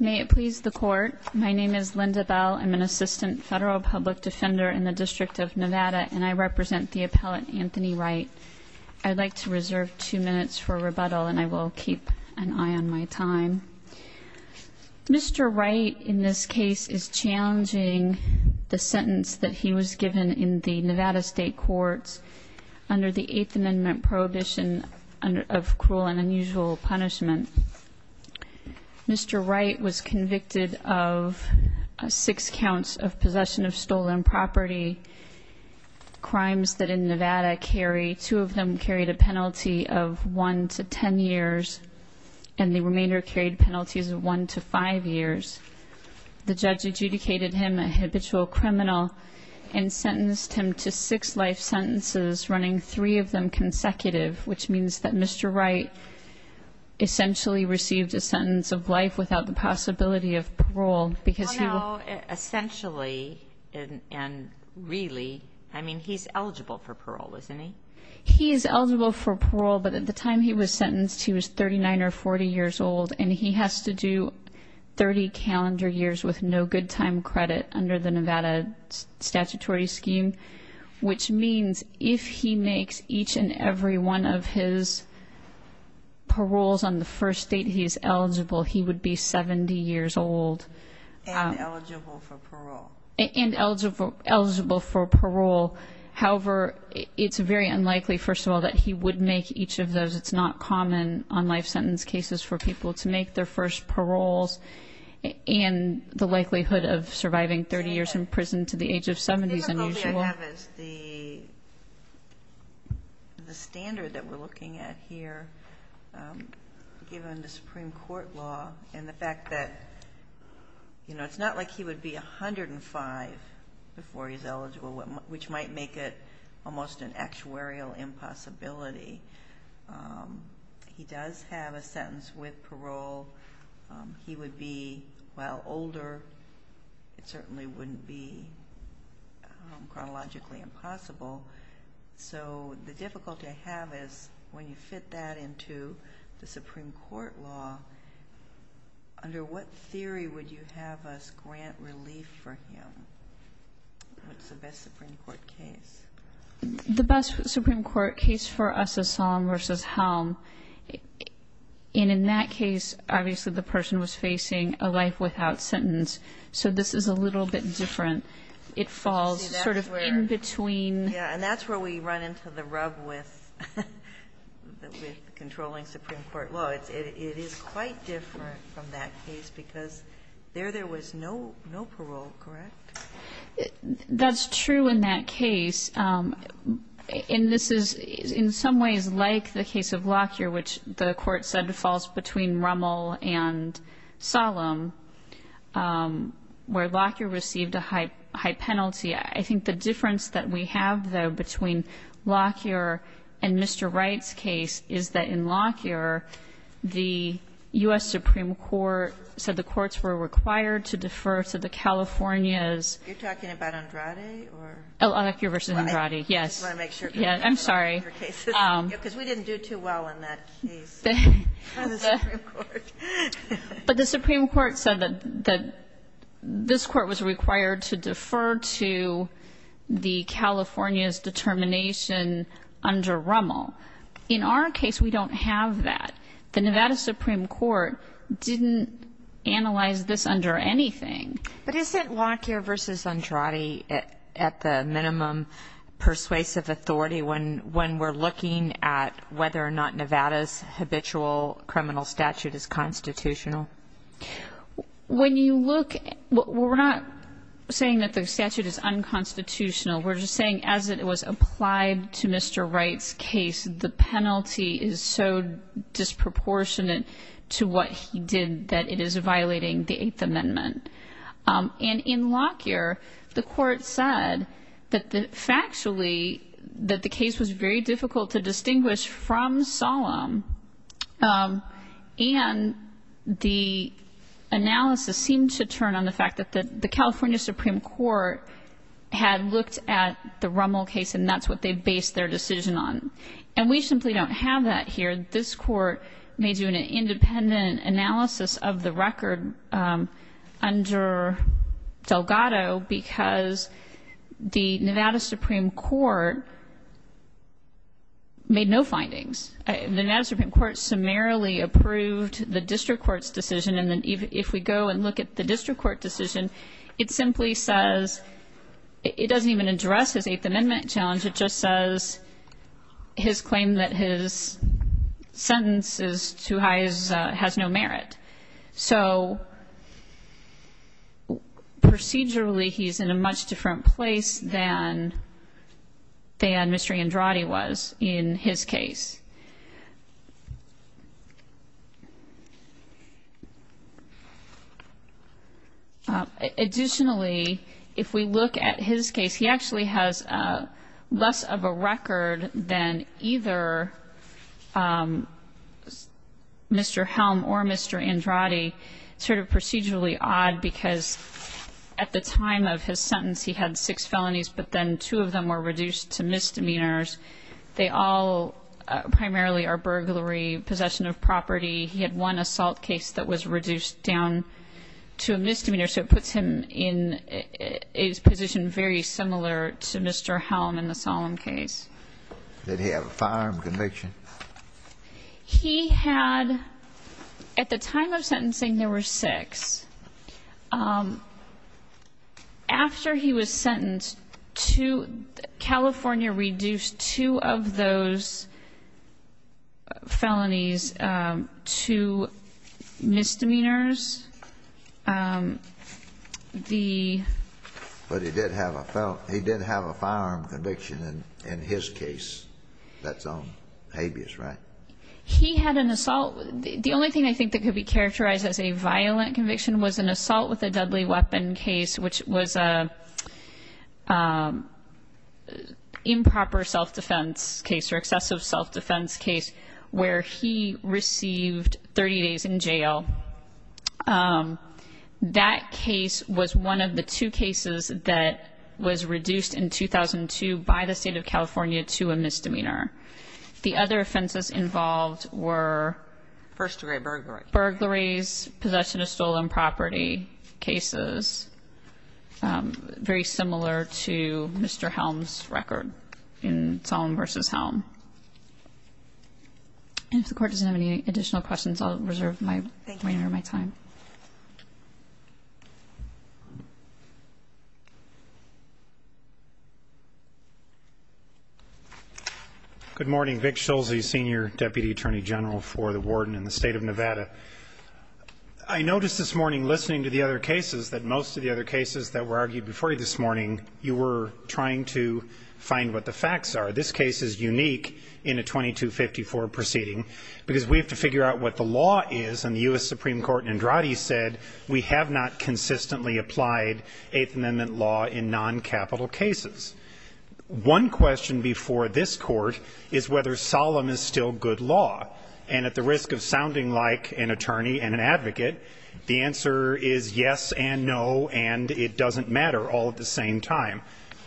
May it please the Court, my name is Linda Bell. I'm an assistant federal public defender in the District of Nevada, and I represent the appellant Anthony Wright. I'd like to reserve two minutes for rebuttal, and I will keep an eye on my time. Mr. Wright in this case is challenging the sentence that he was given in the Nevada State Courts under the Eighth Amendment prohibition of cruel and unusual punishment. Mr. Wright was convicted of six counts of possession of stolen property. Crimes that in Nevada carry, two of them carried a penalty of one to ten years, and the remainder carried penalties of one to five years. The judge adjudicated him a habitual criminal and sentenced him to six life sentences, running three of them consecutive, which means that Mr. Wright essentially received a sentence of life without the possibility of parole. Essentially, and really, I mean, he's eligible for parole, isn't he? And eligible for parole. And eligible for parole. However, it's very unlikely, first of all, that he would make each of those. It's not common on life sentence cases for people to make their first paroles, and the likelihood of surviving 30 years in prison to the age of 70 is unusual. What I have is the standard that we're looking at here, given the Supreme Court law, and the fact that, you know, it's not like he would be 105 before he's eligible, which might make it almost an actuarial impossibility. He does have a sentence with parole. He would be, while older, it certainly wouldn't be chronologically impossible. So the difficulty I have is, when you fit that into the Supreme Court law, under what theory would you have us grant relief for him? What's the best Supreme Court case? The best Supreme Court case for us is Solemn v. Helm. And in that case, obviously, the person was facing a life without sentence. So this is a little bit different. It falls sort of in between. Yeah. And that's where we run into the rub with controlling Supreme Court law. It is quite different from that case, because there there was no parole, correct? That's true in that case. And this is, in some ways, like the case of Lockyer, which the Court said falls between Rummel and Solemn, where Lockyer received a high penalty. I think the difference that we have, though, between Lockyer and Mr. Wright's case is that in Lockyer, the U.S. Supreme Court said the courts were required to defer to the California's. You're talking about Andrade or? Lockyer v. Andrade, yes. I just want to make sure. I'm sorry. Because we didn't do too well in that case. But the Supreme Court said that this court was required to defer to the California's determination under Rummel. In our case, we don't have that. The Nevada Supreme Court didn't analyze this under anything. But isn't Lockyer v. Andrade at the minimum persuasive authority when we're looking at whether or not Nevada's habitual criminal statute is constitutional? When you look, we're not saying that the statute is unconstitutional. We're just saying as it was applied to Mr. Wright's case, the penalty is so disproportionate to what he did that it is violating the Eighth Amendment. And in Lockyer, the court said that factually that the case was very difficult to distinguish from Solem. And the analysis seemed to turn on the fact that the California Supreme Court had looked at the Rummel case and that's what they based their decision on. And we simply don't have that here. This Court may do an independent analysis of the record under Delgado because the Nevada Supreme Court made no findings. The Nevada Supreme Court summarily approved the district court's decision. And if we go and look at the district court decision, it simply says it doesn't even address his Eighth Amendment challenge. It just says his claim that his sentence is too high has no merit. So procedurally, he's in a much different place than Mr. Andrade was in his case. Additionally, if we look at his case, he actually has less of a record than either Mr. Helm or Mr. Andrade. It's sort of procedurally odd because at the time of his sentence, he had six felonies, but then two of them were reduced to misdemeanors. They all primarily are burglary, possession of property. He had one assault case that was reduced down to a misdemeanor, so it puts him in his position very similar to Mr. Helm in the Solemn case. Did he have a firearm conviction? He had at the time of sentencing, there were six. After he was sentenced, California reduced two of those felonies to misdemeanors. But he did have a firearm conviction in his case that's on habeas, right? He had an assault. The only thing I think that could be characterized as a violent conviction was an assault with a deadly weapon case, which was an improper self-defense case or excessive self-defense case where he received 30 days in jail. That case was one of the two cases that was reduced in 2002 by the state of California to a misdemeanor. The other offenses involved were? First-degree burglary. Burglaries, possession of stolen property cases, very similar to Mr. Helm's record in Solemn v. Helm. And if the Court doesn't have any additional questions, I'll reserve my time. Thank you. Thank you. Good morning. Vic Schulze, Senior Deputy Attorney General for the Warden in the State of Nevada. I noticed this morning listening to the other cases that most of the other cases that were argued before you this morning, you were trying to find what the facts are. This case is unique in a 2254 proceeding because we have to figure out what the law is, and the U.S. Supreme Court in Andrade said we have not consistently applied Eighth Amendment law in non-capital cases. One question before this Court is whether Solemn is still good law, and at the risk of sounding like an attorney and an advocate, the answer is yes and no, and it doesn't matter all at the same time.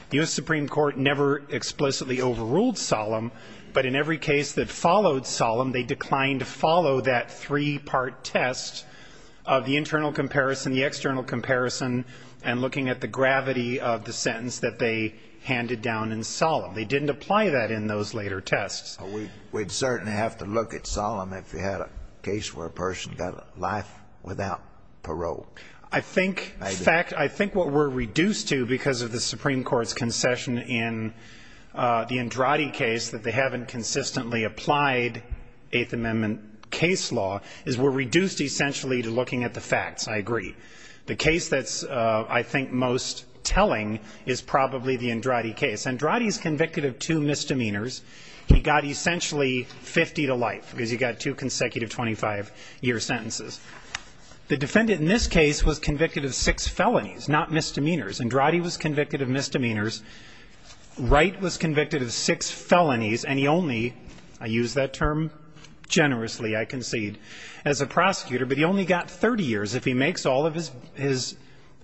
The U.S. Supreme Court never explicitly overruled Solemn, but in every case that followed Solemn, they declined to follow that three-part test of the internal comparison, the external comparison, and looking at the gravity of the sentence that they handed down in Solemn. They didn't apply that in those later tests. We'd certainly have to look at Solemn if you had a case where a person got life without parole. I think what we're reduced to because of the Supreme Court's concession in the Andrade case, that they haven't consistently applied Eighth Amendment case law, is we're reduced essentially to looking at the facts. I agree. The case that's, I think, most telling is probably the Andrade case. Andrade is convicted of two misdemeanors. He got essentially 50 to life because he got two consecutive 25-year sentences. The defendant in this case was convicted of six felonies, not misdemeanors. Andrade was convicted of misdemeanors. Wright was convicted of six felonies, and he only, I use that term generously, I concede, as a prosecutor, but he only got 30 years. If he makes all of his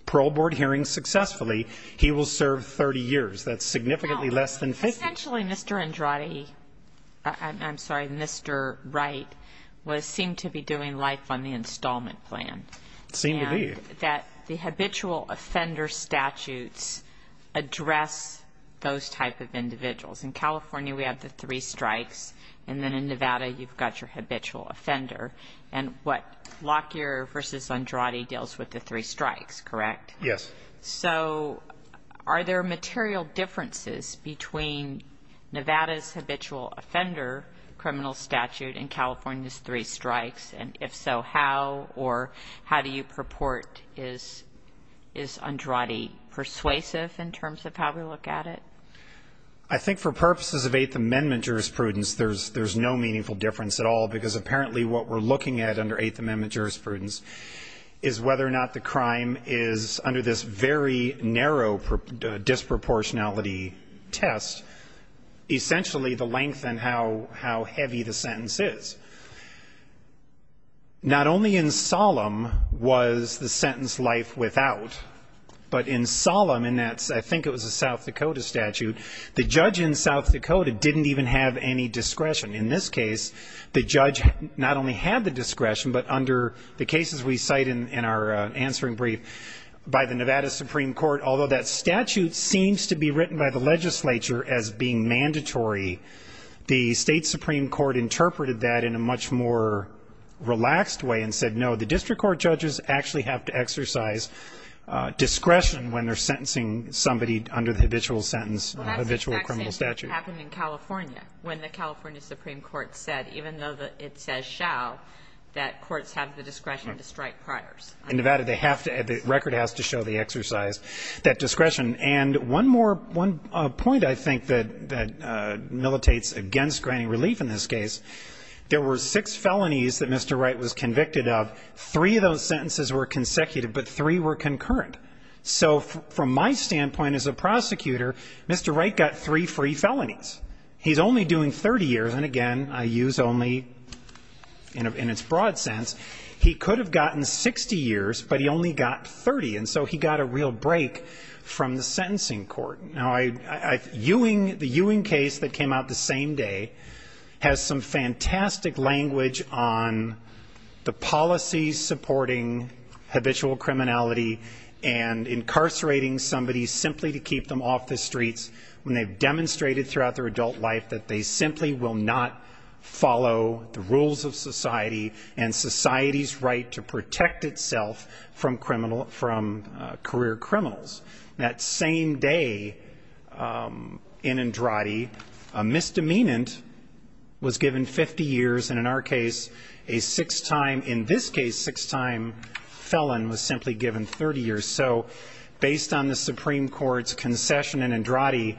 parole board hearings successfully, he will serve 30 years. That's significantly less than 50. Essentially, Mr. Andrade, I'm sorry, Mr. Wright, seemed to be doing life on the installment plan. It seemed to be. The habitual offender statutes address those type of individuals. In California, we have the three strikes, and then in Nevada, you've got your habitual offender. And what Lockyer v. Andrade deals with the three strikes, correct? Yes. So are there material differences between Nevada's habitual offender criminal statute and California's three strikes? And if so, how or how do you purport is Andrade persuasive in terms of how we look at it? I think for purposes of Eighth Amendment jurisprudence, there's no meaningful difference at all, because apparently what we're looking at under Eighth Amendment jurisprudence is whether or not the crime is, under this very narrow disproportionality test, essentially the length and how heavy the sentence is. Not only in Solemn was the sentence life without, but in Solemn, and I think it was a South Dakota statute, the judge in South Dakota didn't even have any discretion. In this case, the judge not only had the discretion, but under the cases we cite in our answering brief by the Nevada Supreme Court, although that statute seems to be written by the legislature as being mandatory, the state Supreme Court interpreted that in a much more relaxed way and said, no, the district court judges actually have to exercise discretion when they're sentencing somebody under the habitual sentence, habitual criminal statute. It happened in California when the California Supreme Court said, even though it says shall, that courts have the discretion to strike priors. In Nevada, they have to, the record has to show the exercise, that discretion. And one more point I think that militates against granting relief in this case, there were six felonies that Mr. Wright was convicted of. Three of those sentences were consecutive, but three were concurrent. So from my standpoint as a prosecutor, Mr. Wright got three free felonies. He's only doing 30 years, and again, I use only in its broad sense. He could have gotten 60 years, but he only got 30, and so he got a real break from the sentencing court. Now, the Ewing case that came out the same day has some fantastic language on the policy supporting habitual criminality and incarcerating somebody simply to keep them off the streets, when they've demonstrated throughout their adult life that they simply will not follow the rules of society and society's right to protect itself from career criminals. That same day in Andrade, a misdemeanant was given 50 years, and in our case, a six-time, in this case, six-time felon was simply given 30 years. So based on the Supreme Court's concession in Andrade,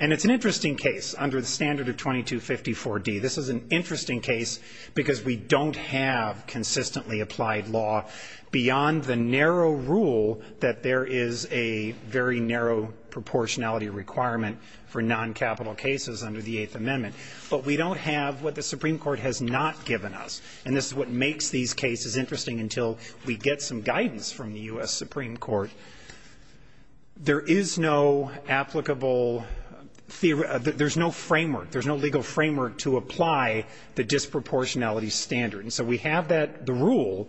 and it's an interesting case under the standard of 2254D. This is an interesting case because we don't have consistently applied law beyond the narrow rule that there is a very narrow proportionality requirement for noncapital cases under the Eighth Amendment. But we don't have what the Supreme Court has not given us, and this is what makes these cases interesting until we get some guidance from the U.S. Supreme Court. There is no applicable theory. There's no framework. There's no legal framework to apply the disproportionality standard. And so we have the rule,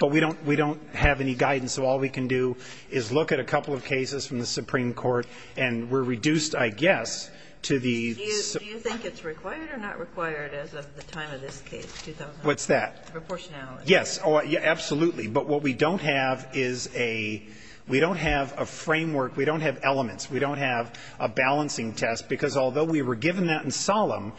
but we don't have any guidance, so all we can do is look at a couple of cases from the Supreme Court, and we're reduced, I guess, to the Supreme Court. Kagan. What is required or not required as of the time of this case, 2000? What's that? Proportionality. Yes. Absolutely. But what we don't have is a we don't have a framework. We don't have elements. We don't have a balancing test, because although we were given that in Solemn,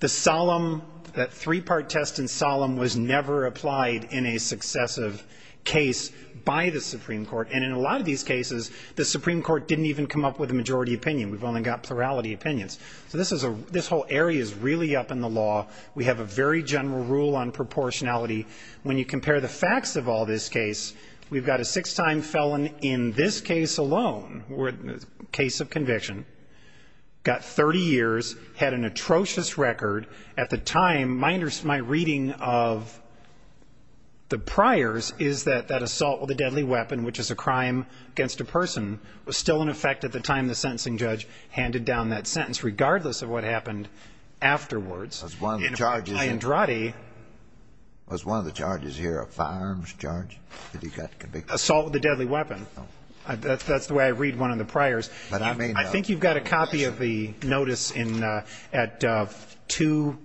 the Solemn, that three-part test in Solemn was never applied in a successive case by the Supreme Court. And in a lot of these cases, the Supreme Court didn't even come up with a majority opinion. We've only got plurality opinions. So this whole area is really up in the law. We have a very general rule on proportionality. When you compare the facts of all this case, we've got a six-time felon in this case alone, case of conviction, got 30 years, had an atrocious record. At the time, my reading of the priors is that that assault with a deadly weapon, which is a crime against a person, was still in effect at the time the sentencing judge handed down that sentence, regardless of what happened afterwards. Was one of the charges here a firearms charge that he got convicted? Assault with a deadly weapon. That's the way I read one of the priors. I think you've got a copy of the notice at 2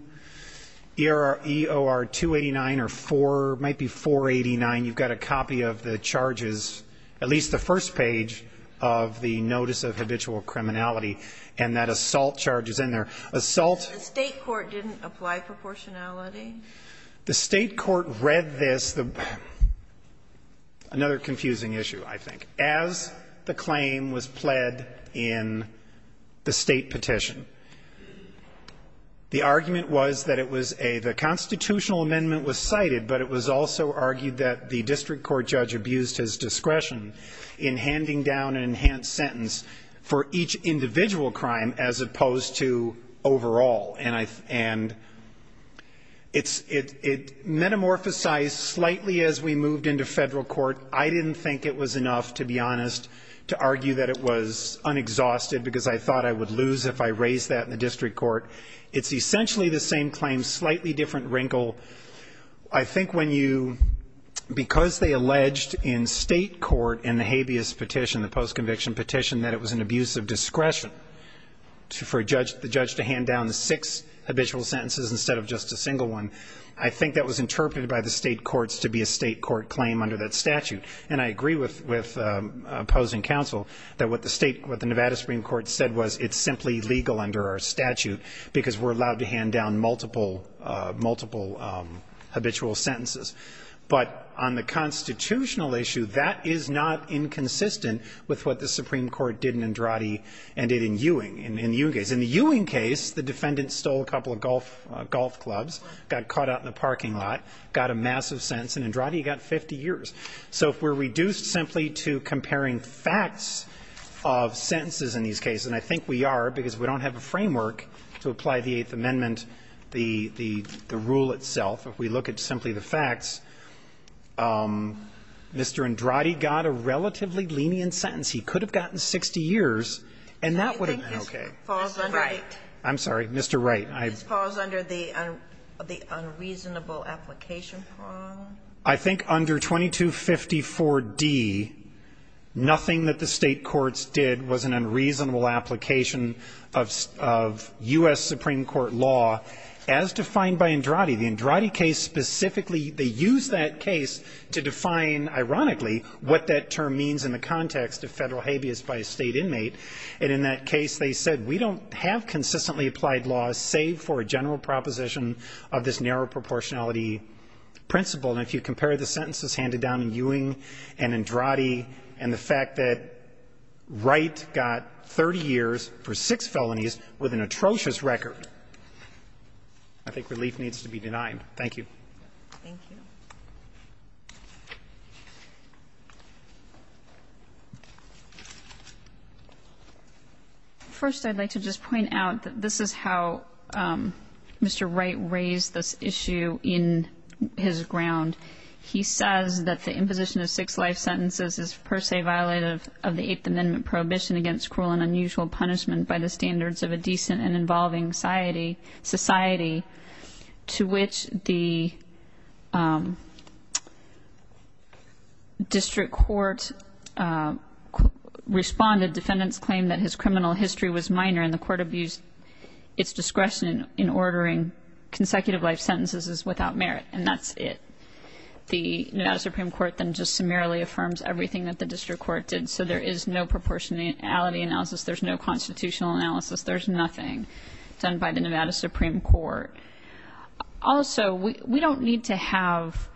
EOR 289 or 4, it might be 489. You've got a copy of the charges, at least the first page of the notice of habitual criminality, and that assault charge is in there. Assault. The State court didn't apply proportionality? The State court read this. Another confusing issue, I think. As the claim was pled in the State petition, the argument was that it was a the constitutional amendment was cited, but it was also argued that the district court judge abused his discretion in handing down an enhanced sentence for each individual crime as opposed to overall. And it metamorphosized slightly as we moved into federal court. I didn't think it was enough, to be honest, to argue that it was unexhausted because I thought I would lose if I raised that in the district court. It's essentially the same claim, slightly different wrinkle. I think when you, because they alleged in State court in the habeas petition, the post-conviction petition, that it was an abuse of discretion for the judge to hand down the six habitual sentences instead of just a single one, I think that was interpreted by the State courts to be a State court claim under that statute. And I agree with opposing counsel that what the Nevada Supreme Court said was it's simply legal under our statute. Because we're allowed to hand down multiple habitual sentences. But on the constitutional issue, that is not inconsistent with what the Supreme Court did in Andrade and did in Ewing. In the Ewing case, the defendant stole a couple of golf clubs, got caught out in the parking lot, got a massive sentence. And Andrade got 50 years. So if we're reduced simply to comparing facts of sentences in these cases, and I think we are because we don't have a framework to apply the Eighth Amendment, the rule itself. If we look at simply the facts, Mr. Andrade got a relatively lenient sentence. He could have gotten 60 years, and that would have been okay. I'm sorry, Mr. Wright. I think under 2254d, nothing that the State courts did was an unreasonable application of U.S. Supreme Court law as defined by Andrade. The Andrade case specifically, they used that case to define, ironically, what that term means in the context of federal habeas by a State inmate. And in that case, they said we don't have consistently applied laws, save for a general proposition of this narrow proportionality principle. And if you compare the sentences handed down in Ewing and Andrade and the fact that Wright got 30 years for six felonies with an atrocious record, I think relief needs to be denied. Thank you. Thank you. First, I'd like to just point out that this is how Mr. Wright raised this issue in his ground. He says that the imposition of six life sentences is per se violative of the Eighth Amendment prohibition against cruel and unusual punishment by the standards of a decent and involving society, to which the district court responded. Defendants claimed that his criminal history was minor, and the court abused its discretion in ordering consecutive life sentences as without merit. And that's it. The Nevada Supreme Court then just summarily affirms everything that the district court did. So there is no proportionality analysis. There's no constitutional analysis. There's nothing done by the Nevada Supreme Court. Also, we don't need to have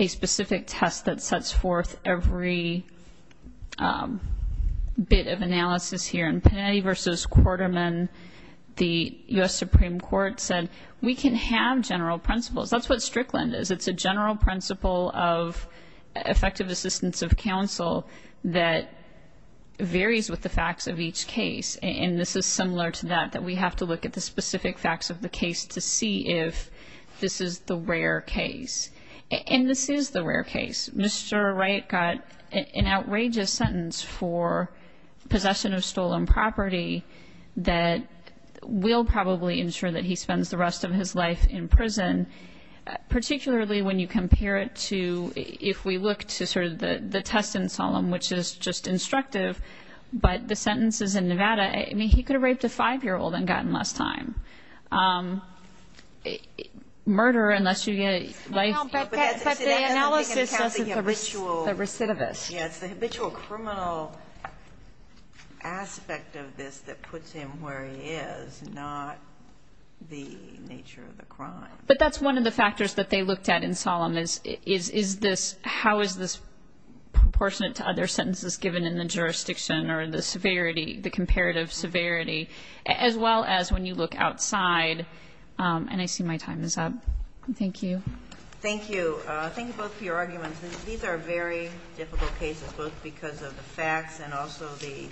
a specific test that sets forth every bit of analysis here. And that's why, in the case of Strickland, when Panetti versus Quarterman, the U.S. Supreme Court said, we can have general principles. That's what Strickland is. It's a general principle of effective assistance of counsel that varies with the facts of each case. And this is similar to that, that we have to look at the specific facts of the case to see if this is the rare case. And this is the rare case. Mr. Wright got an outrageous sentence for possession of stolen property that will probably ensure that he spends the rest of his life in prison, particularly when you compare it to, if we look to sort of the test in solemn, which is just instructive, but the sentences in Nevada, I mean, he could have raped a 5-year-old and gotten less time. Murder, unless you get a life sentence. But the analysis says it's a ritual recidivist. Yes. The habitual criminal aspect of this that puts him where he is, not the nature of the crime. But that's one of the factors that they looked at in solemn is, is this, how is this proportionate to other sentences given in the jurisdiction or the severity, the comparative severity, as well as when you look outside? And I see my time is up. Thank you. Thank you. Thank you both for your arguments. These are very difficult cases, both because of the facts and also the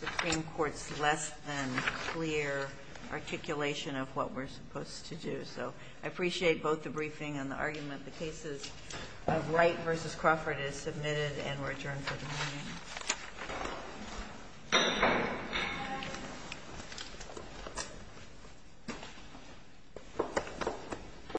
Supreme Court's less than clear articulation of what we're supposed to do. So I appreciate both the briefing and the argument. The cases of Wright v. Crawford is submitted and we're adjourned for the morning. Thank you.